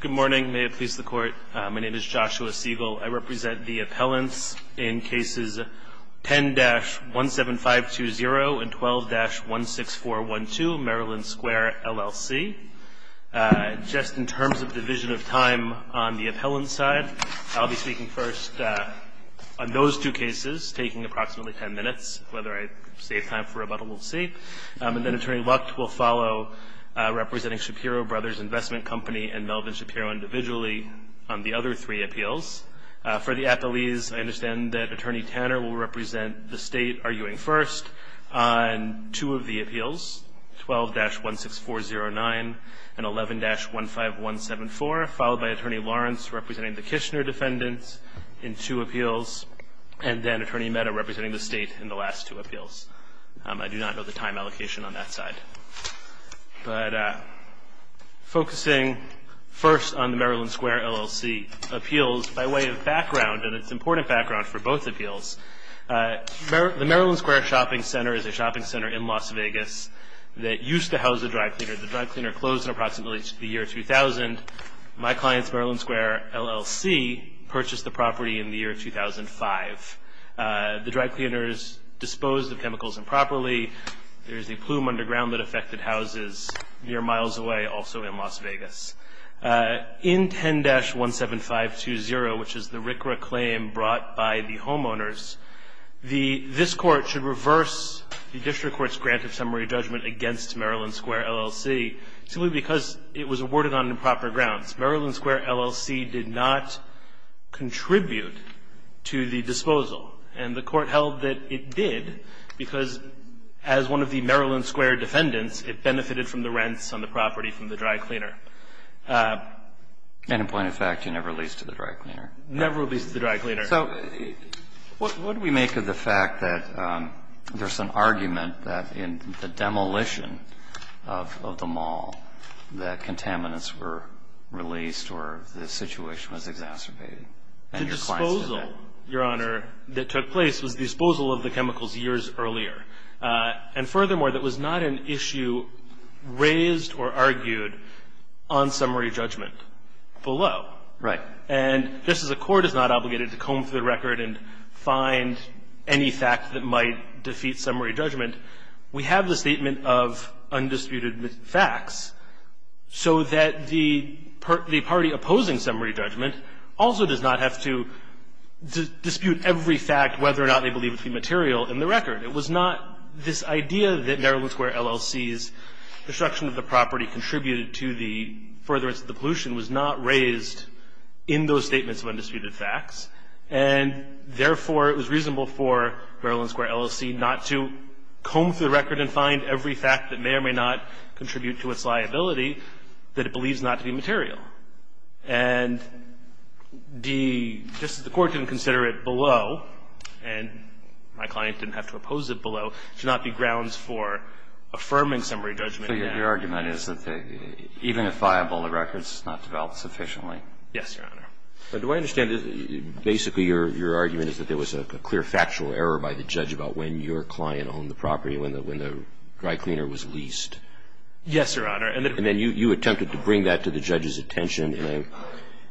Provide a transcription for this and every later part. Good morning. May it please the court, my name is Joshua Siegel. I represent the appellants in cases 10-17520 and 12-16412, Maryland Square LLC. Just in terms of division of time on the appellant side, I'll be speaking first on those two cases, taking approximately 10 minutes. Whether I save time for rebuttal, we'll see. And then Attorney Lucht will follow, representing Shapiro Brothers Investment Company and Melvin Shapiro individually on the other three appeals. For the appellees, I understand that Attorney Tanner will represent the state arguing first on two of the appeals, 12-16409 and 11-15174, followed by Attorney Lawrence representing the Kishner defendants in two appeals, and then Attorney Mehta representing the state in the last two appeals. I do not know the time allocation on that side. But focusing first on the Maryland Square LLC appeals by way of background, and it's important background for both appeals, the Maryland Square Shopping Center is a shopping center in Las Vegas that used to house a dry cleaner. The dry cleaner closed in approximately the year 2000. My clients, Maryland Square LLC, purchased the property in the year 2005. The dry cleaners disposed of chemicals improperly. There is a plume underground that affected houses near miles away, also in Las Vegas. In 10-17520, which is the RCRA claim brought by the homeowners, this court should reverse the district court's grant of summary judgment against Maryland Square LLC, simply because it was awarded on improper grounds. Maryland Square LLC did not contribute to the disposal. And the court held that it did, because as one of the Maryland Square defendants, it benefited from the rents on the property from the dry cleaner. And in point of fact, you never leased to the dry cleaner. Never leased to the dry cleaner. So what do we make of the fact that there's an argument that in the demolition of the mall that contaminants were released or the situation was exacerbated? The disposal, Your Honor, that took place was the disposal of the chemicals years earlier. And furthermore, that was not an issue raised or argued on summary judgment below. Right. And just as a court is not obligated to comb through the record and find any fact that might defeat summary judgment, we have the statement of undisputed facts so that the party opposing summary judgment also does not have to dispute every fact whether or not they believe it to be material in the record. It was not this idea that Maryland Square LLC's destruction of the property contributed to the furtherance of the pollution was not raised in those statements of undisputed facts. And therefore, it was reasonable for Maryland Square LLC not to comb through the record and find every fact that may or may not contribute to its liability that it believes not to be material. And the court didn't consider it below, and my client didn't have to oppose it below, to not be grounds for affirming summary judgment. So your argument is that even if viable, the record's not developed sufficiently. Yes, Your Honor. Do I understand that basically your argument is that there was a clear factual error by the judge about when your client owned the property, when the dry cleaner was leased? Yes, Your Honor. And then you attempted to bring that to the judge's attention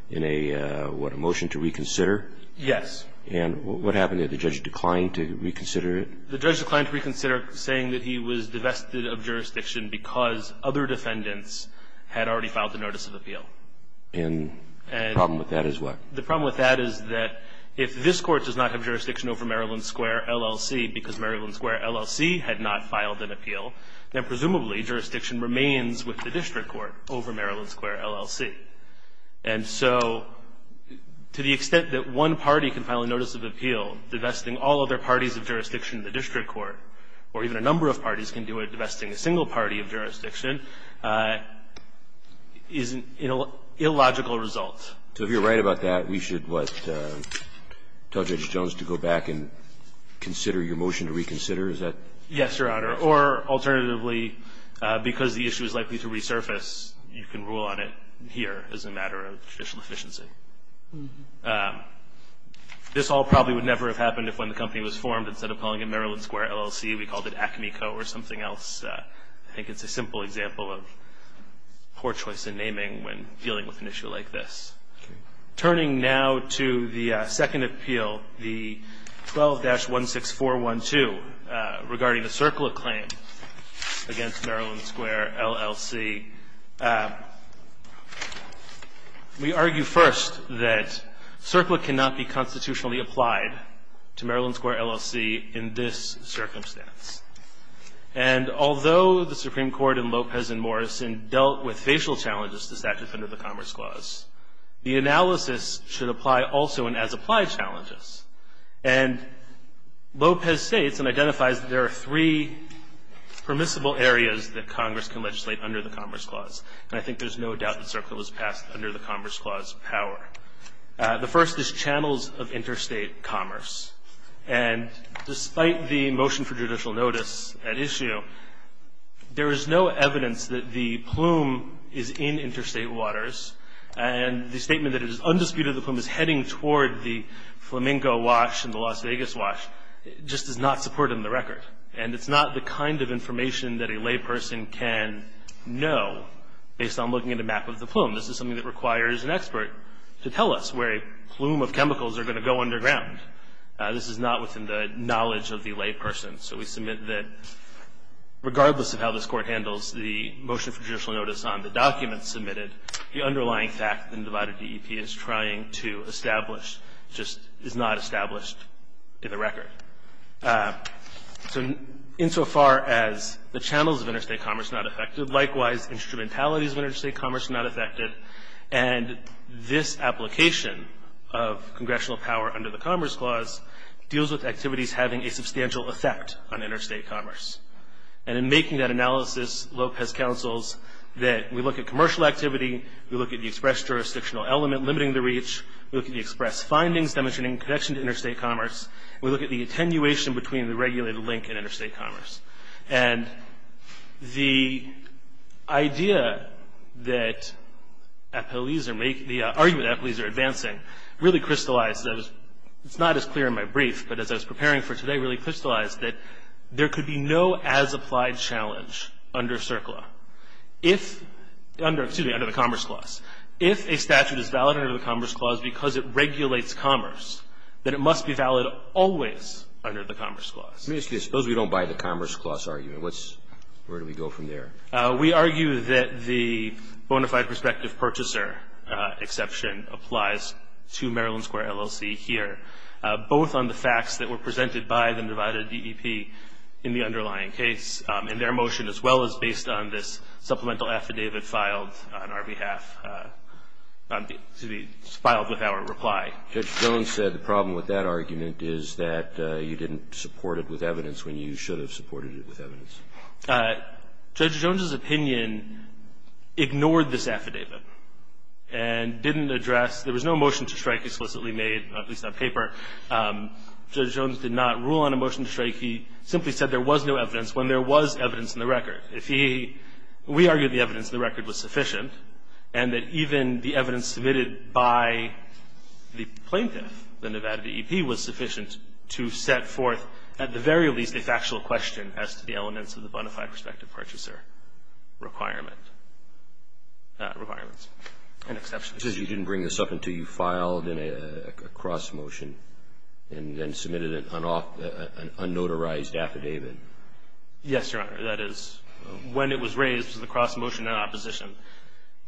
in a, what, a motion to reconsider? Yes. And what happened? Did the judge decline to reconsider it? The judge declined to reconsider saying that he was divested of jurisdiction because other defendants had already filed the notice of appeal. And the problem with that is what? The problem with that is that if this court does not have jurisdiction over Maryland Square LLC because Maryland Square LLC had not filed an appeal, then presumably jurisdiction remains with the district court over Maryland Square LLC. And so to the extent that one party can file a notice of appeal, divesting all other parties of jurisdiction in the district court, or even a number of parties can do it, divesting a single party of jurisdiction, is an illogical result. So if you're right about that, we should, what, tell Judge Jones to go back and consider your motion to reconsider? Is that right? Yes, Your Honor. Or alternatively, because the issue is likely to resurface, you can rule on it here as a matter of judicial efficiency. This all probably would never have happened if when the company was formed, instead of calling it Maryland Square LLC, we called it Acme Co. or something else. I think it's a simple example of poor choice in naming when dealing with an issue like this. Turning now to the second appeal, the 12-16412, regarding the CERCLA claim against Maryland Square LLC, we argue first that CERCLA cannot be constitutionally applied to Maryland Square LLC in this circumstance. And although the Supreme Court in Lopez and Morrison dealt with facial challenges to statute under the Commerce Clause, the analysis should apply also in as-applied challenges. And Lopez states and identifies that there are three permissible areas that Congress can legislate under the Commerce Clause. And I think there's no doubt that CERCLA was passed under the Commerce Clause power. The first is channels of interstate commerce. And despite the motion for judicial notice at issue, there is no evidence that the plume is in interstate waters. And the statement that it is undisputed that the plume is heading toward the Flamingo Wash and the Las Vegas Wash just does not support it in the record. And it's not the kind of information that a layperson can know based on looking at a map of the plume. This is something that requires an expert to tell us where a plume of chemicals are going to go underground. This is not within the knowledge of the layperson. So we submit that regardless of how this Court handles the motion for judicial notice on the documents submitted, the underlying fact that an undivided DEP is trying to establish just is not established in the record. So insofar as the channels of interstate commerce are not affected, likewise, instrumentalities of interstate commerce are not affected. And this application of congressional power under the Commerce Clause deals with activities having a substantial effect on interstate commerce. And in making that analysis, Lopez counsels that we look at commercial activity, we look at the express jurisdictional element limiting the reach, we look at the express findings demonstrating connection to interstate commerce, we look at the attenuation between the regulated link and interstate commerce. And the idea that the argument that police are advancing really crystallized. It's not as clear in my brief, but as I was preparing for today, it really crystallized that there could be no as-applied challenge under CERCLA. If, excuse me, under the Commerce Clause. If a statute is valid under the Commerce Clause because it regulates commerce, then it must be valid always under the Commerce Clause. Let me ask you this. Suppose we don't buy the Commerce Clause argument. Where do we go from there? We argue that the bona fide prospective purchaser exception applies to Maryland Square LLC here, both on the facts that were presented by the undivided DEP in the underlying case, and their motion as well as based on this supplemental affidavit filed on our behalf, to be filed with our reply. Judge Jones said the problem with that argument is that you didn't support it with evidence when you should have supported it with evidence. Judge Jones's opinion ignored this affidavit and didn't address, there was no motion to strike explicitly made, at least on paper. Judge Jones did not rule on a motion to strike. He simply said there was no evidence when there was evidence in the record. If he, we argue the evidence in the record was sufficient and that even the evidence submitted by the plaintiff, the Nevada DEP, was sufficient to set forth, at the very least, a factual question as to the elements of the bona fide prospective purchaser requirements. An exception. He says you didn't bring this up until you filed a cross motion and then submitted an unnotarized affidavit. Yes, Your Honor, that is when it was raised to the cross motion in opposition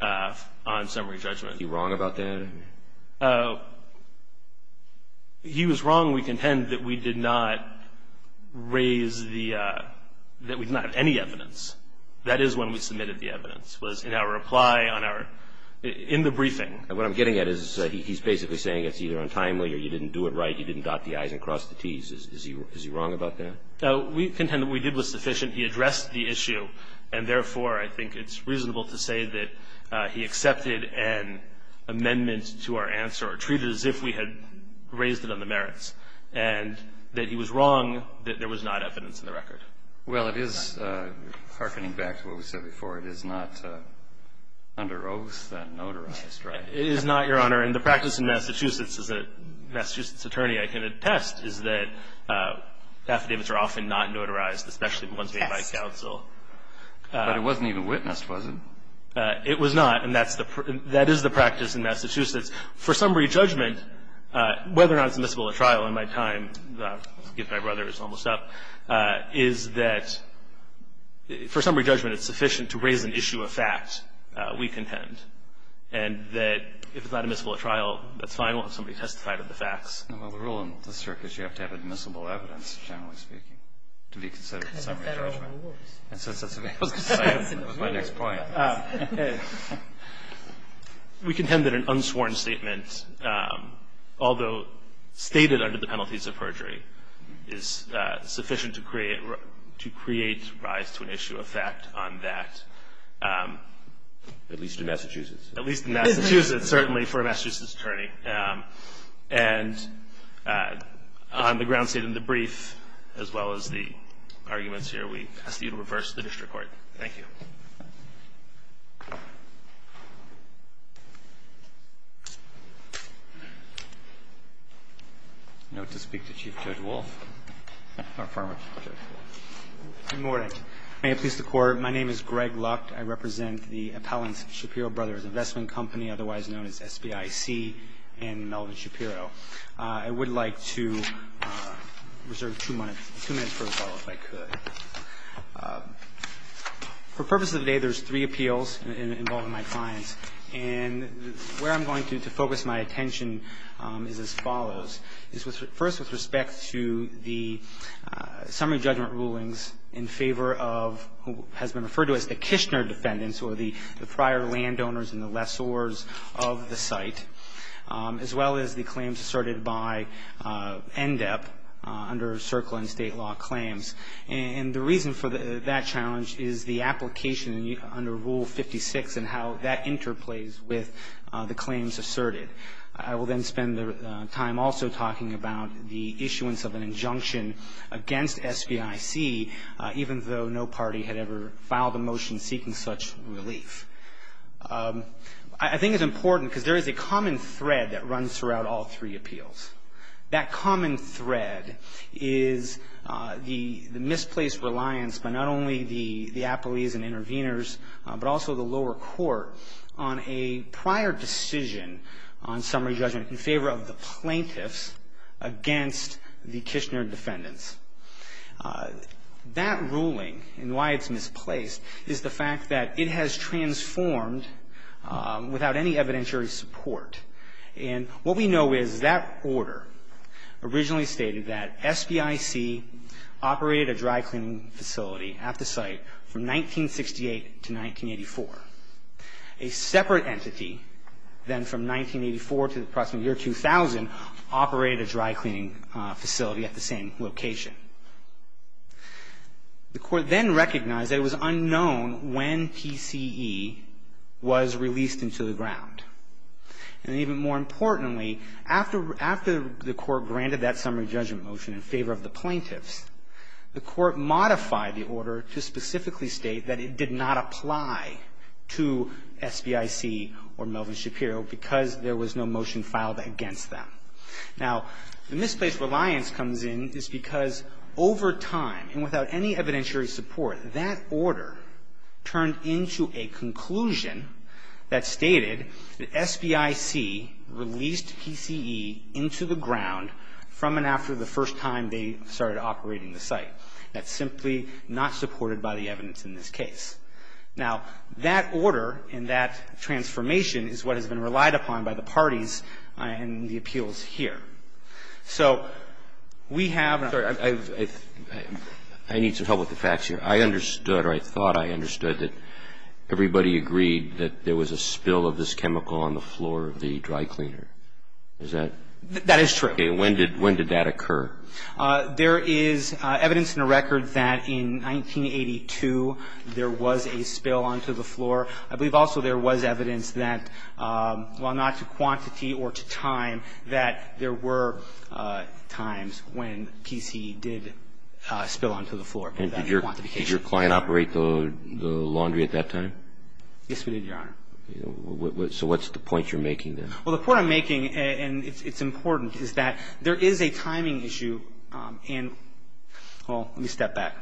on summary judgment. Is he wrong about that? He was wrong. We contend that we did not raise the, that we did not have any evidence. That is when we submitted the evidence, was in our reply on our, in the briefing. And what I'm getting at is he's basically saying it's either untimely or you didn't do it right, you didn't dot the i's and cross the t's. Is he wrong about that? We contend that what we did was sufficient. He addressed the issue. And therefore, I think it's reasonable to say that he accepted an amendment to our answer or treated it as if we had raised it on the merits and that he was wrong that there was not evidence in the record. Well, it is hearkening back to what we said before. It is not under oath, notarized, right? It is not, Your Honor. And the practice in Massachusetts, as a Massachusetts attorney I can attest, is that affidavits are often not notarized, especially ones made by counsel. But it wasn't even witnessed, was it? It was not. And that's the, that is the practice in Massachusetts. For summary judgment, whether or not it's admissible at trial in my time, if my brother is almost up, is that for summary judgment, it's is an issue of fact, we contend. And that if it's not admissible at trial, that's fine. We'll have somebody testify to the facts. Well, the rule in this circuit is you have to have admissible evidence, generally speaking, to be considered for summary judgment. Because of federal rules. And since that's the way it was decided, that was my next point. We contend that an unsworn statement, although stated under the penalties of perjury, is sufficient to create, to create rise to an issue of fact on that. At least in Massachusetts. At least in Massachusetts, certainly for a Massachusetts attorney. And on the grounds stated in the brief, as well as the arguments here, we ask that you reverse the district court. Thank you. Note to speak to Chief Judge Wolf, or former Judge Wolf. Good morning. May it please the court, my name is Greg Lucht. I represent the Appellant Shapiro Brothers Investment Company, otherwise known as SBIC, and Melvin Shapiro. I would like to reserve two minutes for a call, if I could. For purposes of the day, there's three appeals involving my clients. And where I'm going to focus my attention is as follows. First, with respect to the summary judgment rulings in favor of who has been referred to as the Kishner defendants, or the prior landowners and the lessors of the site. As well as the claims asserted by NDEP, under circle and state law claims. And the reason for that challenge is the application under Rule 56, and how that interplays with the claims asserted. I will then spend the time also talking about the issuance of an injunction against SBIC, even though no party had ever filed a motion seeking such relief. I think it's important, because there is a common thread that runs throughout all three appeals. That common thread is the misplaced reliance by not only the appellees and intervenors, but also the lower court, on a prior decision on summary judgment in favor of the plaintiffs against the Kishner defendants. That ruling, and why it's misplaced, is the fact that it has transformed without any evidentiary support. And what we know is that order originally stated that SBIC operated a dry cleaning facility at the site from 1968 to 1984. A separate entity, then from 1984 to the approximate year 2000, operated a dry cleaning facility at the same location. The court then recognized that it was unknown when TCE was released into the ground. And even more importantly, after the court granted that summary judgment motion in favor of the plaintiffs, the court modified the order to specifically state that it did not apply to SBIC or Melvin Shapiro, because there was no motion filed against them. Now, the misplaced reliance comes in is because over time, and without any evidentiary support, that order turned into a conclusion that stated that SBIC released TCE into the ground from and after the first time they started operating the site. That's simply not supported by the evidence in this case. Now, that order and that transformation is what has been relied upon by the parties and the appeals here. So we have a- Sorry, I need some help with the facts here. I understood, or I thought I understood, that everybody agreed that there was a spill of this chemical on the floor of the dry cleaner. Is that- That is true. When did that occur? There is evidence in the record that in 1982, there was a spill onto the floor. I believe also there was evidence that, while not to quantity or to time, that there were times when TCE did spill onto the floor. And did your client operate the laundry at that time? Yes, we did, Your Honor. So what's the point you're making there? Well, the point I'm making, and it's important, is that there is a timing issue. And, well, let me step back.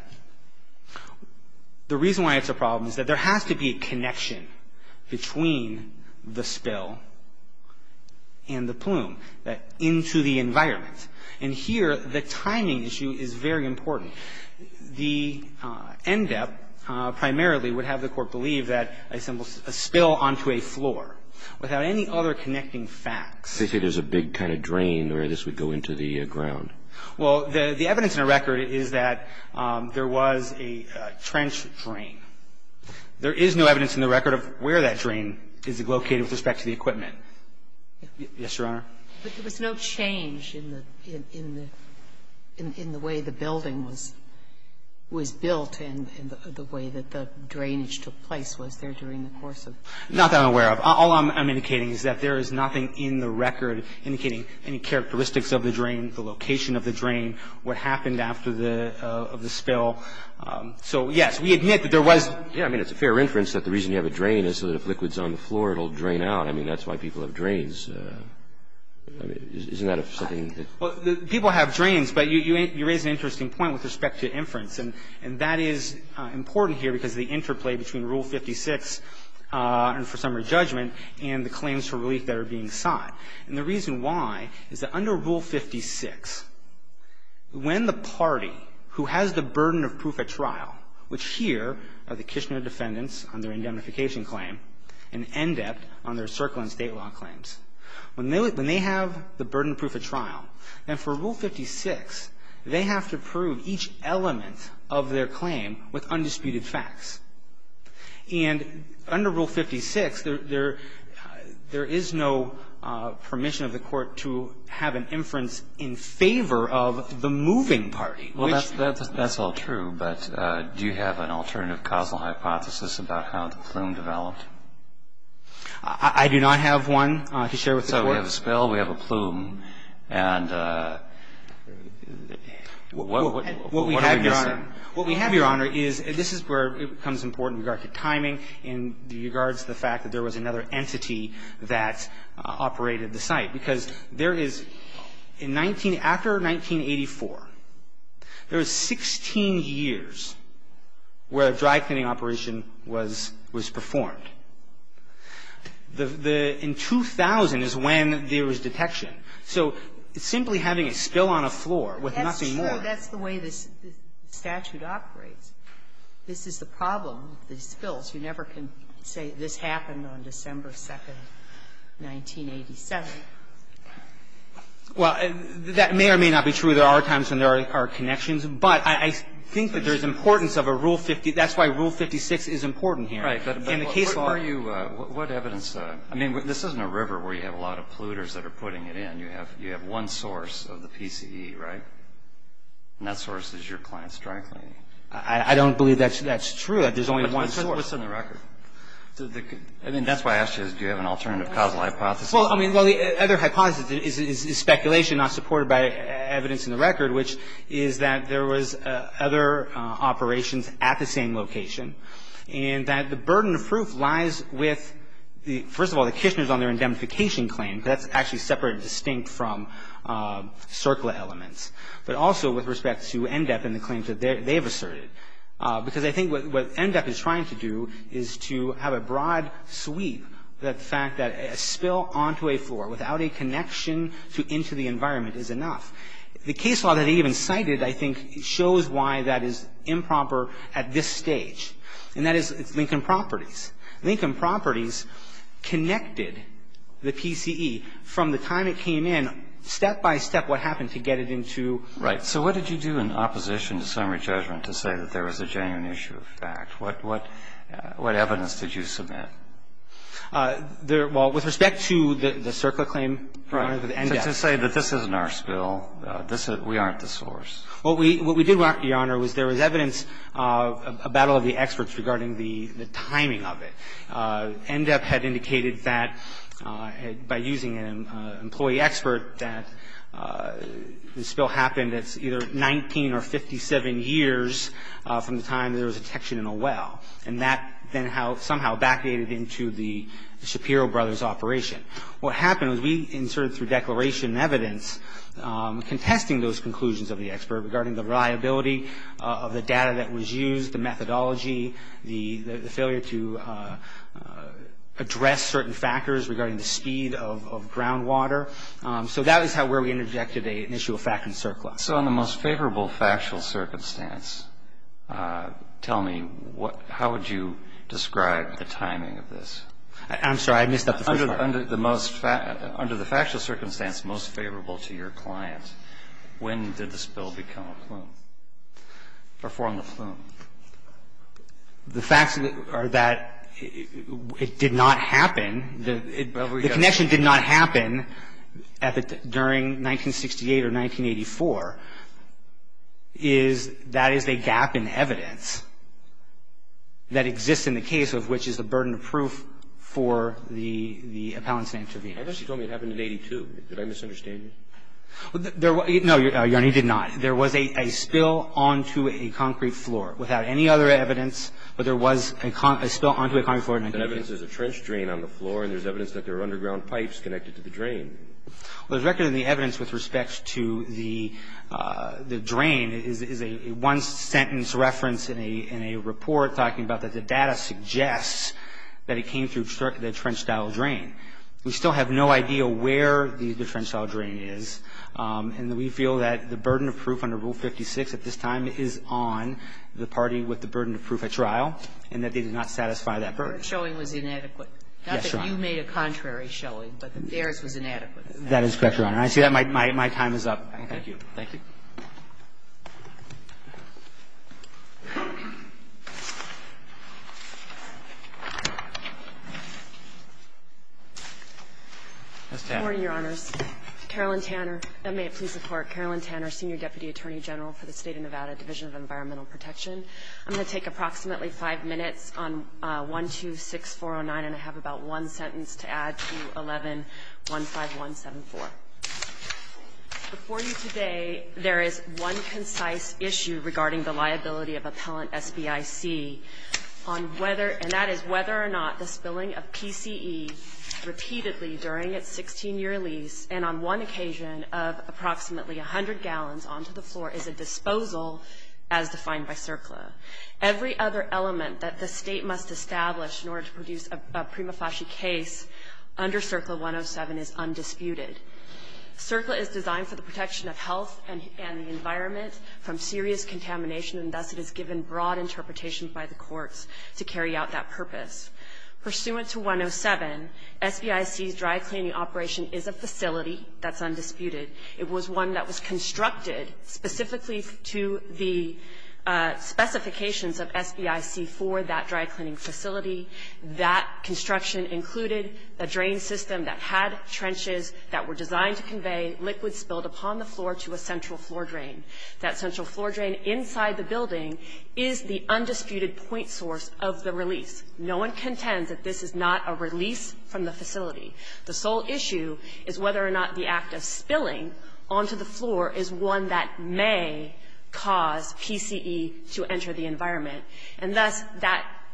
The reason why it's a problem is that there has to be a connection between the spill and the plume into the environment. And here, the timing issue is very important. The NDEP primarily would have the court believe that a spill onto a floor without any other connecting facts. So you say there's a big kind of drain where this would go into the ground. Well, the evidence in the record is that there was a trench drain. There is no evidence in the record of where that drain is located with respect to the equipment. Yes, Your Honor. But there was no change in the way the building was built and the way that the drainage took place. Was there during the course of? Not that I'm aware of. All I'm indicating is that there is nothing in the record indicating any characteristics of the drain, the location of the drain, what happened after the spill. So, yes, we admit that there was. Yeah, I mean, it's a fair inference that the reason you have a drain is so that if liquid's on the floor, it'll drain out. I mean, that's why people have drains. Isn't that something that? People have drains. But you raise an interesting point with respect to inference. And that is important here because the interplay between Rule 56 and for summary judgment and the claims for relief that are being sought. And the reason why is that under Rule 56, when the party who has the burden of proof at trial, which here are the Kishner defendants on their indemnification claim and NDEBT on their circle and state law claims, when they have the burden of proof at trial, then for Rule 56, they have to prove each element of their claim with undisputed facts. And under Rule 56, there is no permission of the court to have an inference in favor of the moving party. Well, that's all true. But do you have an alternative causal hypothesis about how the plume developed? I do not have one to share with the court. So we have a spill. We have a plume. And what are we guessing? What we have, Your Honor, is this is where it becomes important in regard to timing, in regards to the fact that there was another entity that operated the site. Because there is, after 1984, there was 16 years where a dry cleaning operation was performed. The 2000 is when there was detection. So simply having a spill on a floor with nothing more. That's true. That's the way the statute operates. This is the problem with the spills. You never can say this happened on December 2, 1987. Well, that may or may not be true. There are times when there are connections. But I think that there is importance of a Rule 50. That's why Rule 56 is important here. Right. In the case law. But what evidence, I mean, this isn't a river where you have a lot of polluters that are putting it in. You have one source of the PCE, right? And that source is your client's dry cleaning. I don't believe that's true, that there's only one source. But what's in the record? I mean, that's why I asked you, do you have an alternative causal hypothesis? Well, the other hypothesis is speculation not supported by evidence in the record, which is that there was other operations at the same location. And that the burden of proof lies with, first of all, the Kishner's on their indemnification claim. That's actually separated distinct from CERCLA elements. But also with respect to NDEP and the claims that they've asserted. Because I think what NDEP is trying to do is to have a broad sweep that the fact that a spill onto a floor without a connection to into the environment is enough. The case law that they even cited, I think, shows why that is improper at this stage. And that is Lincoln Properties. Lincoln Properties connected the PCE from the time it came in, step by step, what happened to get it into. Right, so what did you do in opposition to summary judgment to say that there was a genuine issue of fact? What evidence did you submit? Well, with respect to the CERCLA claim and the NDEP. To say that this isn't our spill, we aren't the source. What we did, Your Honor, was there was evidence about all of the experts regarding the timing of it. NDEP had indicated that by using an employee expert that the spill happened at either 19 or 57 years from the time there was a detection in a well. And that then somehow vacated into the Shapiro Brothers operation. What happened was we inserted through declaration and evidence contesting those conclusions of the expert regarding the reliability of the data that was used, the methodology, the failure to address certain factors regarding the speed of groundwater. So that is where we interjected an issue of fact in CERCLA. So in the most favorable factual circumstance, tell me, how would you describe the timing of this? I'm sorry, I missed up the first part. Under the factual circumstance most favorable to your client, when did the spill become a plume? Or form a plume? The facts are that it did not happen. The connection did not happen during 1968 or 1984. That is a gap in evidence that exists in the case of which is a burden of proof for the appellants and intervenors. I thought you told me it happened in 82. Did I misunderstand you? No, Your Honor, you did not. There was a spill onto a concrete floor without any other evidence, but there was a spill onto a concrete floor. The evidence is a trench drain on the floor, and there's evidence that there are underground pipes connected to the drain. The record of the evidence with respect to the drain is a one-sentence reference in a report talking about that the data suggests that it came through the trench-style drain. We still have no idea where the trench-style drain is, and we feel that the burden of proof under Rule 56 at this time is on the party with the burden of proof at trial, and that they did not satisfy that burden. Your showing was inadequate. Yes, Your Honor. Not that you made a contrary showing, but theirs was inadequate. That is correct, Your Honor. I see that my time is up. Thank you. Thank you. Ms. Tanner. Good morning, Your Honors. Carolyn Tanner, and may it please the Court, Carolyn Tanner, Senior Deputy Attorney General for the State of Nevada, Division of Environmental Protection. I'm going to take approximately 5 minutes on 126409, and I have about one sentence to add to 11-15174. Before you today, there is one concise issue regarding the liability of appellant SBIC on whether, and that is whether or not the spilling of PCE repeatedly during its 16-year lease and on one occasion of approximately 100 gallons onto the floor is a disposal as defined by CERCLA. Every other element that the State must establish in order to produce a prima facie case under CERCLA 107 is undisputed. CERCLA is designed for the protection of health and the environment from serious contamination, and thus it is given broad interpretation by the courts to carry out that purpose. Pursuant to 107, SBIC's dry cleaning operation is a facility that's undisputed. It was one that was constructed specifically to the specifications of SBIC for that dry cleaning facility. That construction included a drain system that had trenches that were designed to convey liquid spilled upon the floor to a central floor drain. That central floor drain inside the building is the undisputed point source of the release. No one contends that this is not a release from the facility. The sole issue is whether or not the act of spilling onto the floor is one that may cause PCE to enter the environment. And thus,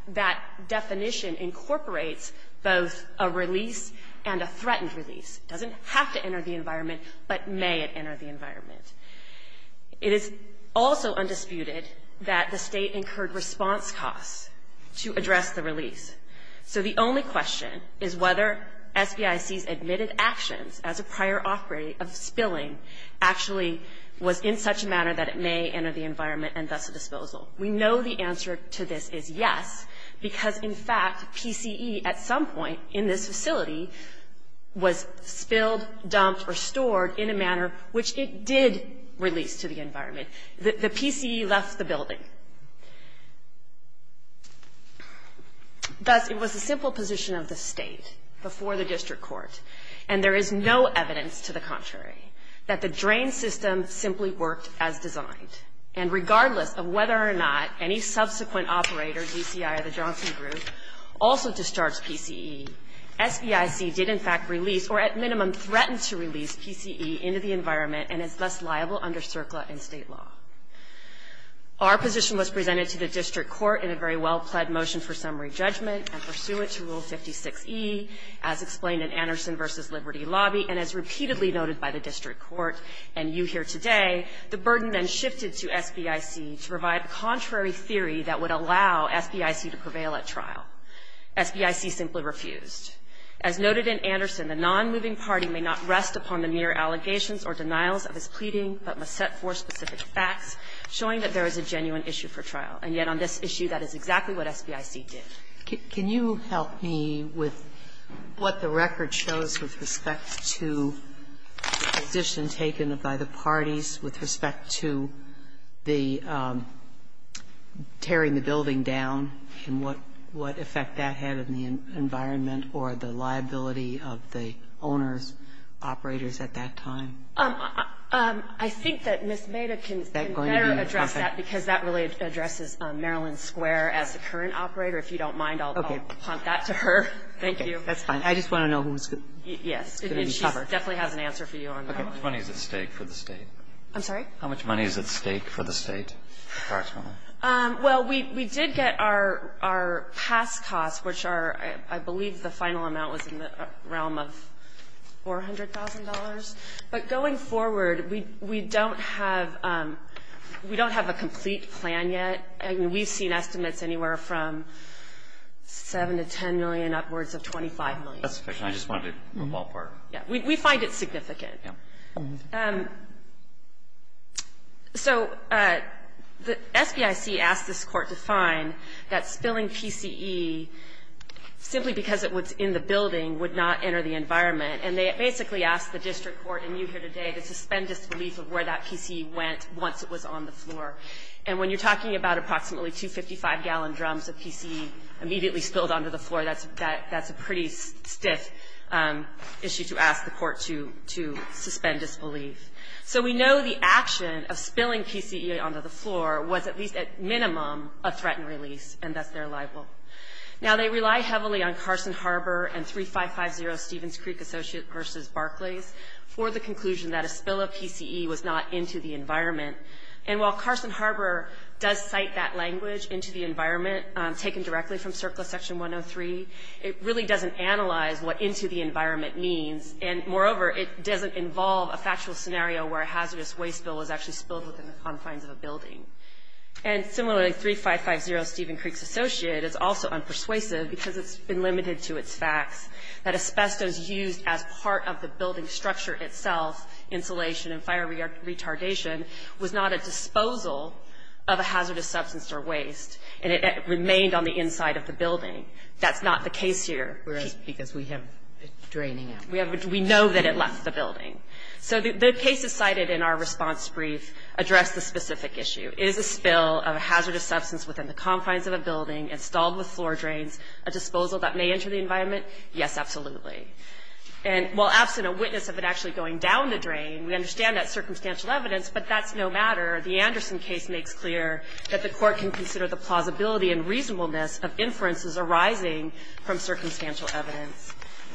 that definition incorporates both a release and a threatened release. It doesn't have to enter the environment, but may it enter the environment. It is also undisputed that the State incurred response costs to address the release. So the only question is whether SBIC's admitted actions as a prior operative of spilling actually was in such a manner that it may enter the environment and thus a disposal. We know the answer to this is yes, because, in fact, PCE at some point in this facility was spilled, dumped, or stored in a manner which it did release to the environment. The PCE left the building. Thus, it was the simple position of the State before the district court, and there is no evidence to the contrary that the drain system simply worked as designed. And regardless of whether or not any subsequent operator, DCI or the Johnson Group, also discharged PCE, SBIC did, in fact, release or, at minimum, threatened to release PCE into the environment and is thus liable under CERCLA and State law. Our position was presented to the district court in a very well-pled motion for summary judgment and pursuant to Rule 56e, as explained in Anderson v. Liberty Lobby, and as repeatedly noted by the district court and you here today, the burden then shifted to SBIC to provide a contrary theory that would allow SBIC to prevail at trial. SBIC simply refused. As noted in Anderson, the nonmoving party may not rest upon the mere allegations or denials of his pleading, but must set forth specific facts showing that there is a genuine issue for trial. And yet on this issue, that is exactly what SBIC did. Sotomayor, can you help me with what the record shows with respect to the position taken by the parties with respect to the tearing the building down and what effect that had on the environment or the liability of the owners, operators at that time? I think that Ms. Maida can better address that because that really addresses Maryland Square as the current operator. If you don't mind, I'll punt that to her. Thank you. That's fine. I just want to know who's going to be covered. Yes. She definitely has an answer for you on that. Okay. How much money is at stake for the State? I'm sorry? How much money is at stake for the State, approximately? Well, we did get our past costs, which are, I believe, the final amount was in the realm of $400,000. But going forward, we don't have a complete plan yet. I mean, we've seen estimates anywhere from $7 million to $10 million, upwards of $25 million. That's okay. I just wanted to move all apart. Yes. We find it significant. Yes. So the SBIC asked this Court to find that spilling PCE, simply because it was in the environment. And they basically asked the District Court, and you here today, to suspend disbelief of where that PCE went once it was on the floor. And when you're talking about approximately two 55-gallon drums of PCE immediately spilled onto the floor, that's a pretty stiff issue to ask the Court to suspend disbelief. So we know the action of spilling PCE onto the floor was at least, at minimum, a threatened release, and that's their libel. Now, they rely heavily on Carson Harbor and 3550 Stevens Creek Associate v. Barclays for the conclusion that a spill of PCE was not into the environment. And while Carson Harbor does cite that language, into the environment, taken directly from Circula Section 103, it really doesn't analyze what into the environment means. And moreover, it doesn't involve a factual scenario where a hazardous waste spill was actually spilled within the confines of a building. And similarly, 3550 Stevens Creek Associate is also unpersuasive because it's been limited to its facts that asbestos used as part of the building structure itself, insulation and fire retardation, was not a disposal of a hazardous substance or waste, and it remained on the inside of the building. That's not the case here. Kagan. Whereas, because we have it draining out. We know that it left the building. So the cases cited in our response brief address the specific issue. Is a spill of a hazardous substance within the confines of a building installed with floor drains a disposal that may enter the environment? Yes, absolutely. And while absent a witness of it actually going down the drain, we understand that's circumstantial evidence, but that's no matter. The Anderson case makes clear that the Court can consider the plausibility and reasonableness of inferences arising from circumstantial evidence.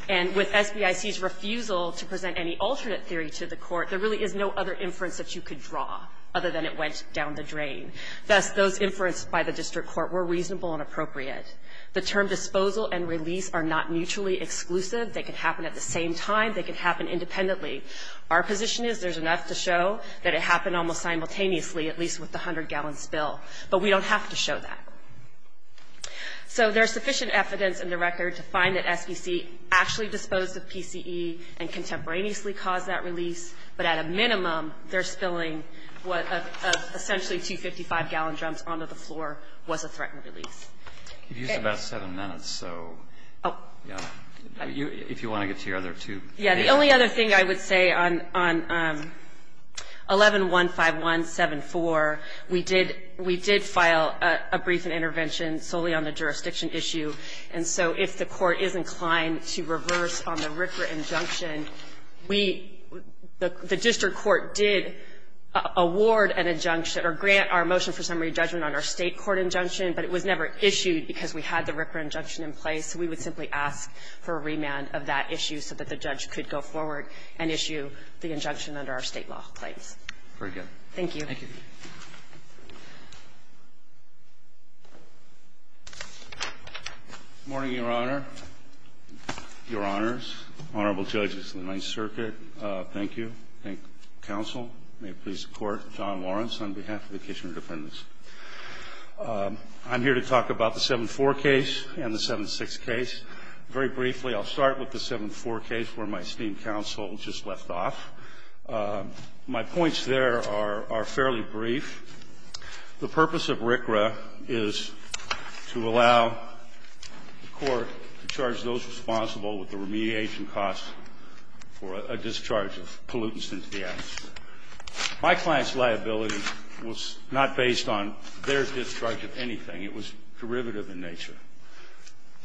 And with SBIC's refusal to present any alternate theory to the Court, there really is no other inference that you could draw other than it went down the drain. Thus, those inferences by the district court were reasonable and appropriate. The term disposal and release are not mutually exclusive. They could happen at the same time. They could happen independently. Our position is there's enough to show that it happened almost simultaneously, at least with the 100-gallon spill. But we don't have to show that. So there's sufficient evidence in the record to find that SBIC actually disposed of PCE and contemporaneously caused that release. But at a minimum, their spilling of essentially 255-gallon drums onto the floor was a threatened release. Okay. You used about 7 minutes, so if you want to get to your other two. Yeah. The only other thing I would say on 11-15174, we did file a brief and intervention solely on the jurisdiction issue. And so if the Court is inclined to reverse on the RCRA injunction, we, the district court did award an injunction or grant our motion for summary judgment on our State court injunction, but it was never issued because we had the RCRA injunction in place. We would simply ask for a remand of that issue so that the judge could go forward and issue the injunction under our State law in place. Very good. Thank you. Thank you. Good morning, Your Honor, Your Honors, Honorable Judges of the Ninth Circuit. Thank you. Thank you, counsel. May it please the Court. John Lawrence on behalf of the Kitchener defendants. I'm here to talk about the 7-4 case and the 7-6 case. Very briefly, I'll start with the 7-4 case where my esteemed counsel just left off. My points there are fairly brief. The purpose of RCRA is to allow the Court to charge those responsible with the remediation costs for a discharge of pollutants into the atmosphere. My client's liability was not based on their discharge of anything. It was derivative in nature.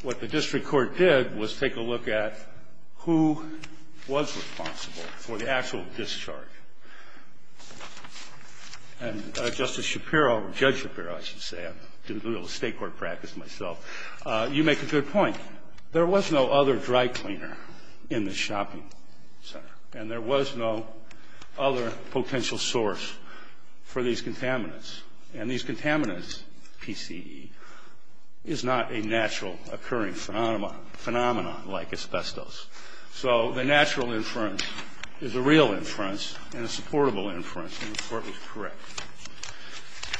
What the district court did was take a look at who was responsible for the actual discharge. And Justice Shapiro, Judge Shapiro, I should say. I did a little State court practice myself. You make a good point. There was no other dry cleaner in the shopping center. And there was no other potential source for these contaminants. And these contaminants, PCE, is not a natural occurring phenomenon like asbestos. So the natural inference is a real inference and a supportable inference, and the Court was correct.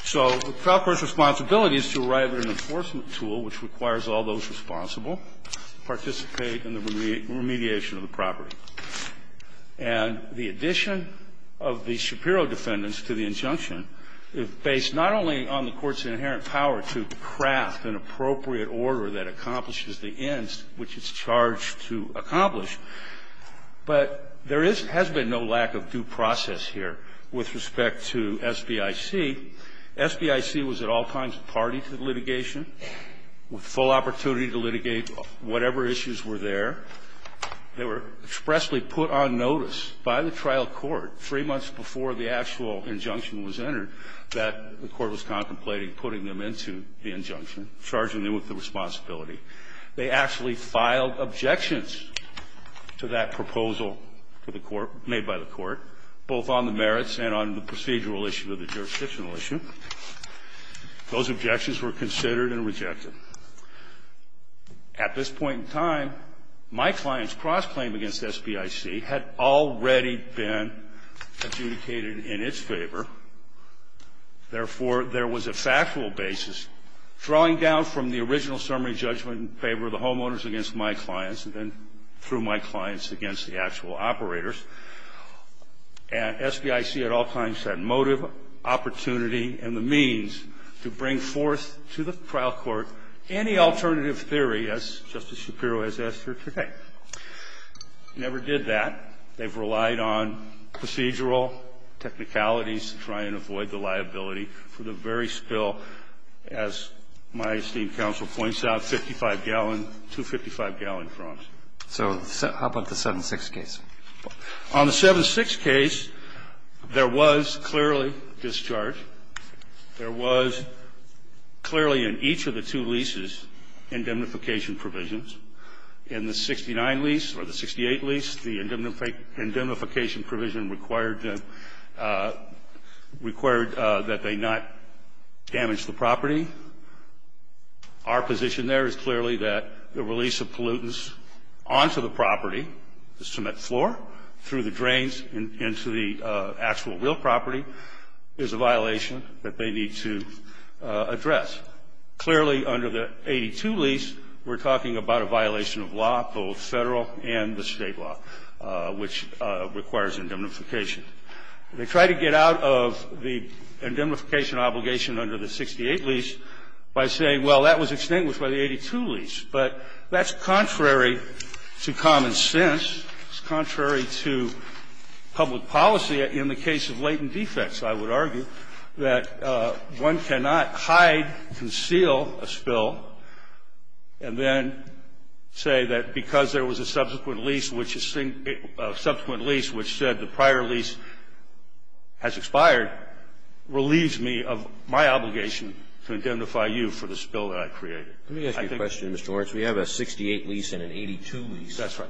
So the proper responsibility is to arrive at an enforcement tool which requires all those responsible to participate in the remediation of the property. And the addition of the Shapiro defendants to the injunction is based not only on the Court's inherent power to craft an appropriate order that accomplishes the ends which it's charged to accomplish, but there is or has been no lack of due process here with respect to SBIC. SBIC was at all times party to the litigation, with full opportunity to litigate whatever issues were there. They were expressly put on notice by the trial court three months before the actual injunction was entered that the Court was contemplating putting them into the injunction, charging them with the responsibility. They actually filed objections to that proposal to the Court, made by the Court, both on the merits and on the procedural issue of the jurisdictional issue. Those objections were considered and rejected. At this point in time, my client's cross-claim against SBIC had already been adjudicated in its favor. Therefore, there was a factual basis, drawing down from the original summary judgment in favor of the homeowners against my clients and then through my clients against the actual operators. And SBIC at all times had motive, opportunity, and the means to bring forth to the trial court any alternative theory, as Justice Shapiro has asked her today. Never did that. They've relied on procedural technicalities to try and avoid the liability for the very spill, as my esteemed counsel points out, 55-gallon, 255-gallon crumbs. So how about the 7-6 case? On the 7-6 case, there was clearly discharge. There was clearly in each of the two leases indemnification provisions. In the 69 lease or the 68 lease, the indemnification provision required that they not damage the property. Our position there is clearly that the release of pollutants onto the property, the cement floor, through the drains and into the actual real property, is a violation that they need to address. Clearly, under the 82 lease, we're talking about a violation of law, both Federal and the State law, which requires indemnification. They try to get out of the indemnification obligation under the 68 lease by saying, well, that was extinguished by the 82 lease. But that's contrary to common sense, it's contrary to public policy in the case of latent defects, I would argue, that one cannot hide, conceal a spill, and then say that because there was a subsequent lease, which is a subsequent lease which said the prior lease has expired, relieves me of my obligation to indemnify you for the spill that I created. I think that's true. Roberts, we have a 68 lease and an 82 lease. That's right.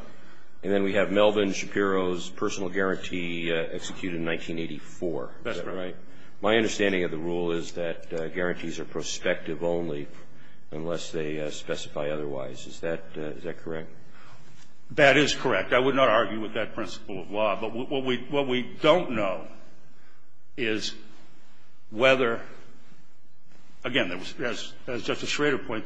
And then we have Melvin Shapiro's personal guarantee executed in 1984. That's right. My understanding of the rule is that guarantees are prospective only unless they specify otherwise. Is that correct? That is correct. I would not argue with that principle of law. But what we don't know is whether, again, as Justice Schrader points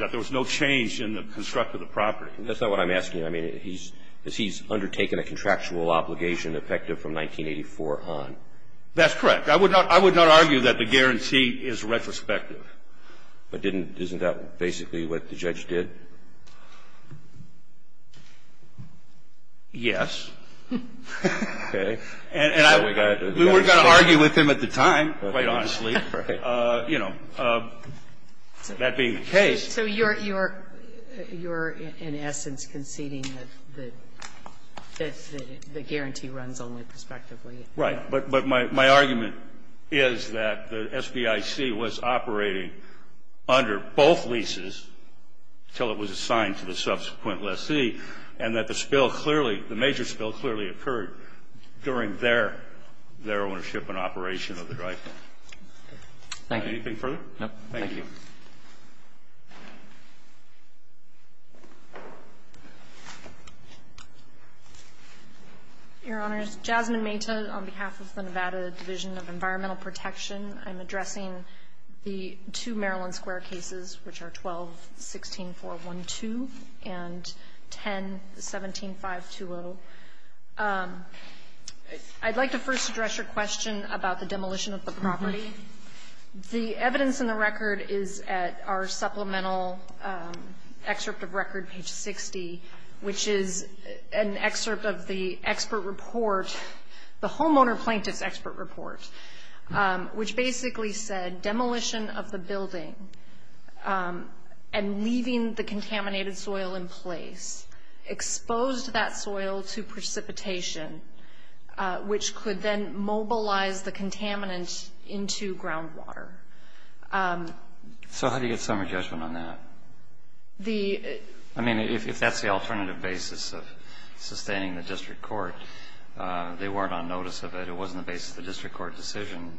out, there was no change in the construct of the property. That's not what I'm asking. I mean, he's undertaken a contractual obligation effective from 1984 on. That's correct. I would not argue that the guarantee is retrospective. But didn't that basically what the judge did? Yes. Okay. And I would not argue with him at the time, quite honestly. You know, that being the case. So you're in essence conceding that the guarantee runs only prospectively? Right. But my argument is that the SBIC was operating under both leases until it was assigned to the subsequent lessee, and that the spill clearly, the major spill clearly occurred during their ownership and operation of the drift. Thank you. Anything further? No. Thank you, Mr. Chief Justice, and members of the Nevada Division of Environmental Protection, I'm addressing the two Maryland Square cases, which are 12-16-412 and 10-17-520. I'd like to first address your question about the demolition of the property. The evidence in the record is at our supplemental excerpt of record, page 60, which is an excerpt of the expert report, the homeowner plaintiff's expert report, which basically said demolition of the building and leaving the contaminated soil in place exposed that soil to precipitation, which could then mobilize the contaminants into groundwater. So how do you get summary judgment on that? The ---- I mean, if that's the alternative basis of sustaining the district court, they weren't on notice of it. It wasn't the basis of the district court decision.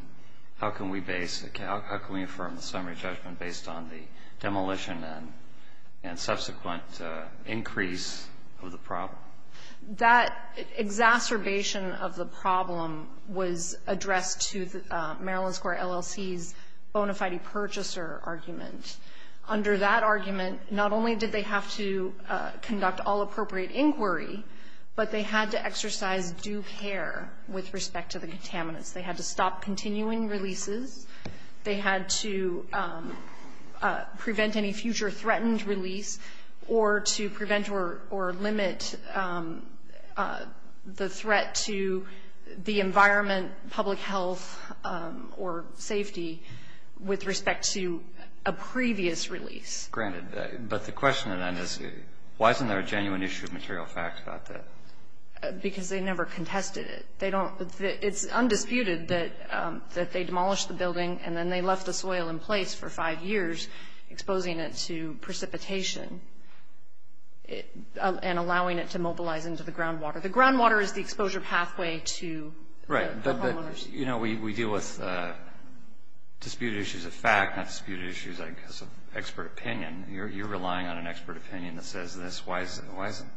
How can we base the case? How can we affirm the summary judgment based on the demolition and subsequent increase of the problem? That exacerbation of the problem was addressed to the Maryland Square LLC's bona fide purchaser argument. Under that argument, not only did they have to conduct all appropriate inquiry, but they had to exercise due care with respect to the contaminants. They had to stop continuing releases. They had to prevent any future threatened release or to prevent or limit the threat to the environment, public health, or safety with respect to a previous release. Granted, but the question then is why isn't there a genuine issue of material fact about that? Because they never contested it. They don't ---- it's undisputed that they demolished the building and then they left the soil in place for five years, exposing it to precipitation and allowing it to mobilize into the groundwater. The groundwater is the exposure pathway to the homeowners. Right. But, you know, we deal with disputed issues of fact, not disputed issues of expert opinion. You're relying on an expert opinion that says this. Why isn't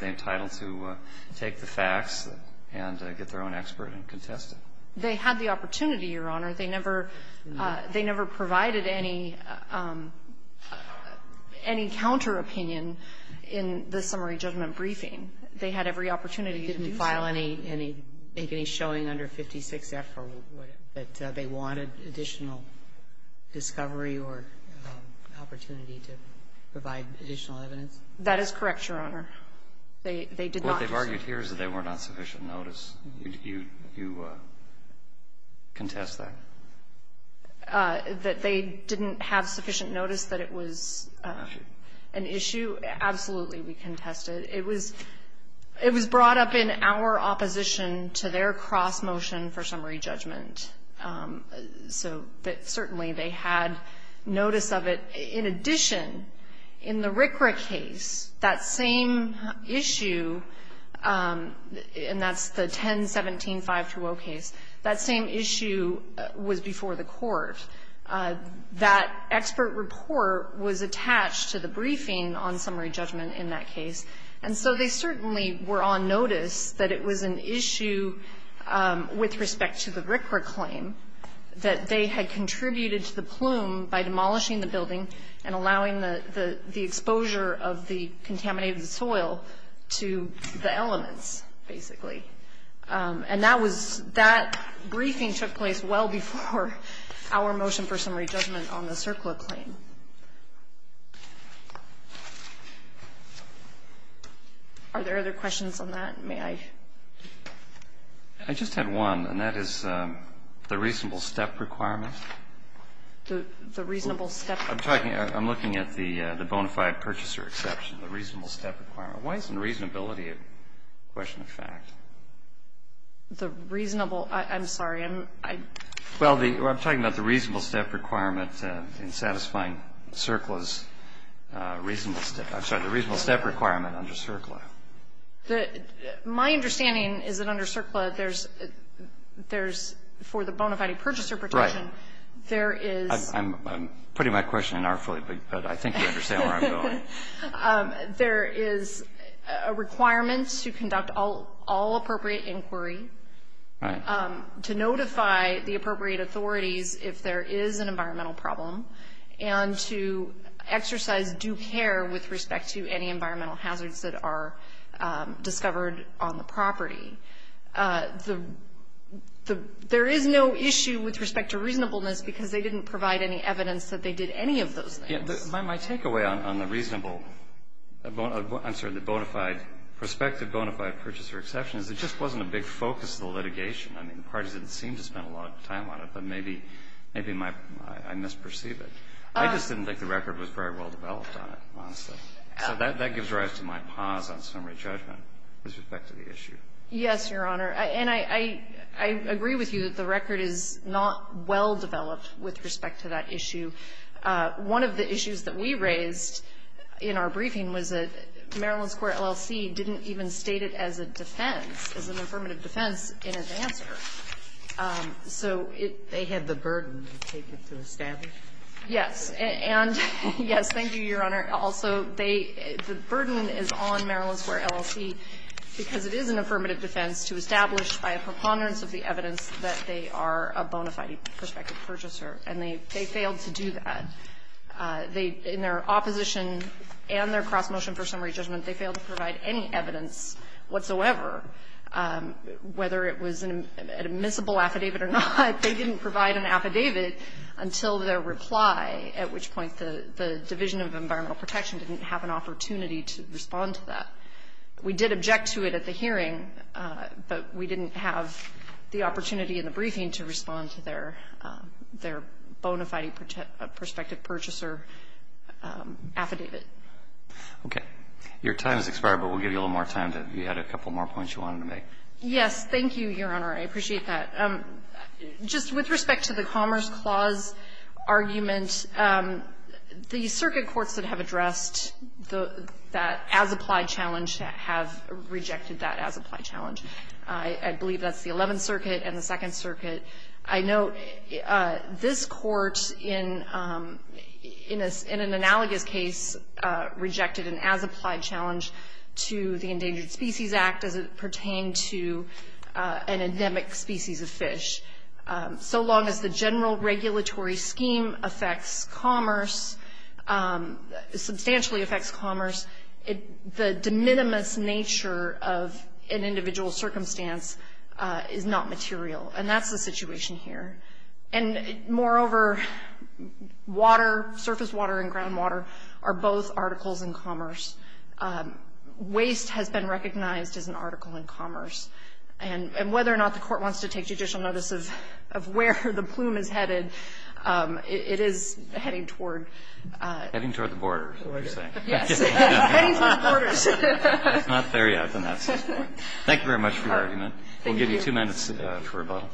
they entitled to take the facts and get their own expert and contest it? They had the opportunity, Your Honor. They never provided any counteropinion in the summary judgment briefing. They had every opportunity to do so. Didn't file any ---- make any showing under 56F that they wanted additional discovery or opportunity to provide additional evidence? That is correct, Your Honor. They did not. What they've argued here is that they were not on sufficient notice. You contest that? That they didn't have sufficient notice that it was an issue? Absolutely, we contested. It was brought up in our opposition to their cross motion for summary judgment. So certainly they had notice of it. In addition, in the RCRA case, that same issue, and that's the 10-17-5-2-0 case, that same issue was before the court. That expert report was attached to the briefing on summary judgment in that case. And so they certainly were on notice that it was an issue with respect to the RCRA claim that they had contributed to the plume by demolishing the building and allowing the exposure of the contaminated soil to the elements, basically. And that was ---- that briefing took place well before our motion for summary judgment on the CERCLA claim. Are there other questions on that? May I? I just had one, and that is the reasonable step requirement. The reasonable step? I'm talking ---- I'm looking at the bona fide purchaser exception, the reasonable step requirement. Why isn't reasonability a question of fact? The reasonable ---- I'm sorry. Well, I'm talking about the reasonable step requirement in satisfying CERCLA's reasonable step. I'm sorry, the reasonable step requirement under CERCLA. The ---- my understanding is that under CERCLA, there's ---- there's, for the bona fide purchaser protection, there is ---- Right. I'm putting my question in artfully, but I think you understand where I'm going. There is a requirement to conduct all appropriate inquiry. Right. To notify the appropriate authorities if there is an environmental problem and to exercise due care with respect to any environmental hazards that are discovered on the property. The ---- there is no issue with respect to reasonableness because they didn't provide any evidence that they did any of those things. My takeaway on the reasonable ---- I'm sorry, the bona fide prospective bona fide purchaser exception is it just wasn't a big focus of the litigation. I mean, the parties didn't seem to spend a lot of time on it, but maybe my ---- I misperceive it. I just didn't think the record was very well developed on it, honestly. So that gives rise to my pause on summary judgment with respect to the issue. Yes, Your Honor. And I agree with you that the record is not well developed with respect to that issue. One of the issues that we raised in our briefing was that Maryland's court LLC didn't even state it as a defense, as an affirmative defense, in its answer. So it ---- They had the burden to take it to establish. Yes. And, yes, thank you, Your Honor. Also, they ---- the burden is on Maryland's court LLC because it is an affirmative defense to establish by a preponderance of the evidence that they are a bona fide prospective purchaser, and they failed to do that. They, in their opposition and their cross-motion for summary judgment, they failed to provide any evidence whatsoever, whether it was an admissible affidavit or not. They didn't provide an affidavit until their reply, at which point the Division of Environmental Protection didn't have an opportunity to respond to that. We did object to it at the hearing, but we didn't have the opportunity in the briefing to respond to their bona fide prospective purchaser affidavit. Okay. Your time has expired, but we'll give you a little more time to add a couple more points you wanted to make. Yes. Thank you, Your Honor. I appreciate that. Just with respect to the Commerce Clause argument, the circuit courts that have addressed the ---- that as-applied challenge have rejected that as-applied challenge. I believe that's the Eleventh Circuit and the Second Circuit. I note this Court in an analogous case rejected an as-applied challenge to the Endangered Species Act as it pertained to an endemic species of fish. So long as the general regulatory scheme affects commerce, substantially affects commerce, the de minimis nature of an individual's circumstance is not material. And that's the situation here. And moreover, water, surface water and groundwater are both articles in commerce. Waste has been recognized as an article in commerce. And whether or not the Court wants to take judicial notice of where the plume is headed, it is heading toward ---- Heading toward the border, is what you're saying. Yes. Heading toward the border. If not there yet, then that's his point. Thank you very much for your argument. Thank you. I'll give you two minutes for rebuttal.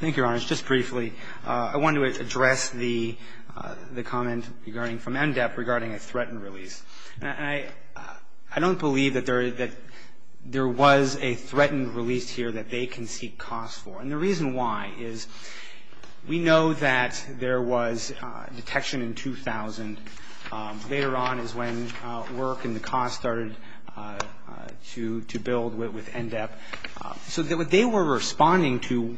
Thank you, Your Honors. Just briefly, I want to address the comment regarding from MDEP regarding a threatened release. I don't believe that there was a threatened release here that they can seek cost for. And the reason why is we know that there was detection in 2000. Later on is when work and the cost started to build with MDEP. So what they were responding to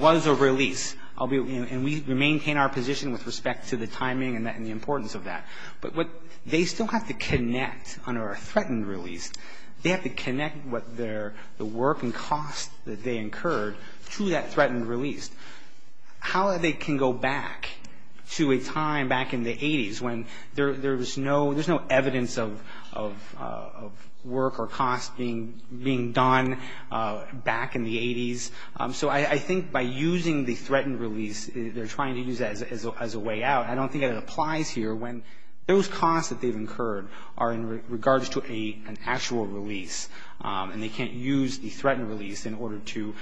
was a release. And we maintain our position with respect to the timing and the importance of that. But what they still have to connect under a threatened release, they have to connect what they're ---- the work and cost that they incurred to that threatened release. How they can go back to a time back in the 80s when there was no ---- there's no evidence of work or cost being done back in the 80s? So I think by using the threatened release, they're trying to use that as a way out. I don't think that it applies here when those costs that they've incurred are in regards to an actual release and they can't use the threatened release in order to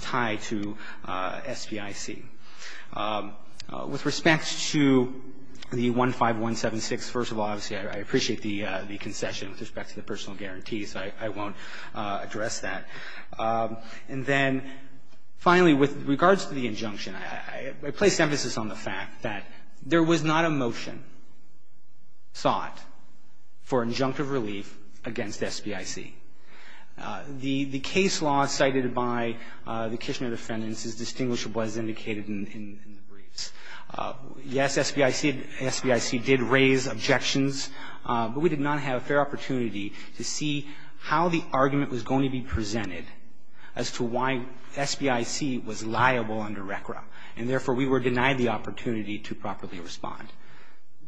tie to SBIC. With respect to the 15176, first of all, obviously, I appreciate the concession with respect to the personal guarantee, so I won't address that. And then finally, with regards to the injunction, I place emphasis on the fact that there was not a motion sought for injunctive relief against SBIC. The case law cited by the Kishner defendants is distinguishable as indicated in the briefs. Yes, SBIC did raise objections, but we did not have a fair opportunity to see how the argument was going to be presented as to why SBIC was liable under RECRA. And therefore, we were denied the opportunity to properly respond.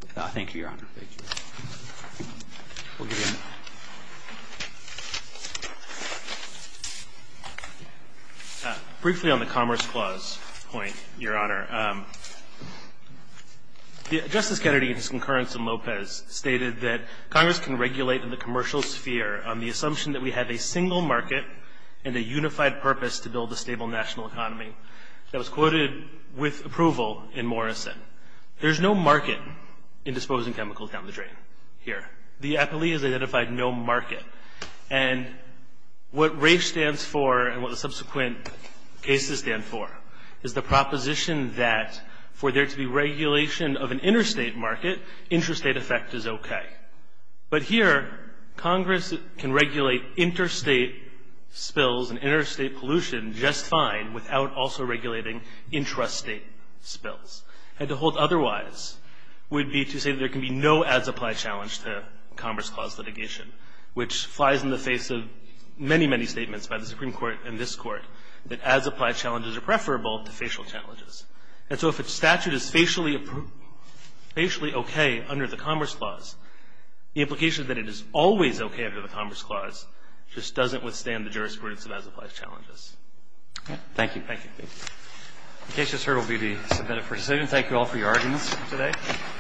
Thank you, Your Honor. Thank you. We'll give you a minute. Briefly on the Commerce Clause point, Your Honor, Justice Kennedy in his concurrence in Lopez stated that Congress can regulate in the commercial sphere on the assumption that we have a single market and a unified purpose to build a stable national economy. That was quoted with approval in Morrison. There's no market in disposing chemicals down the drain here. The APELI has identified no market. And what RAFE stands for and what the subsequent cases stand for is the proposition that for there to be regulation of an interstate market, interstate effect is okay. But here, Congress can regulate interstate spills and interstate pollution just fine without also regulating intrastate spills. And to hold otherwise would be to say that there can be no as-applied challenge to Commerce Clause litigation, which flies in the face of many, many statements by the Supreme Court and this Court that as-applied challenges are preferable to facial challenges. And so if a statute is facially okay under the Commerce Clause, the implication that it is always okay under the Commerce Clause just doesn't withstand the jurisprudence of as-applied challenges. Thank you. The case just heard will be submitted for decision. Thank you all for your arguments today.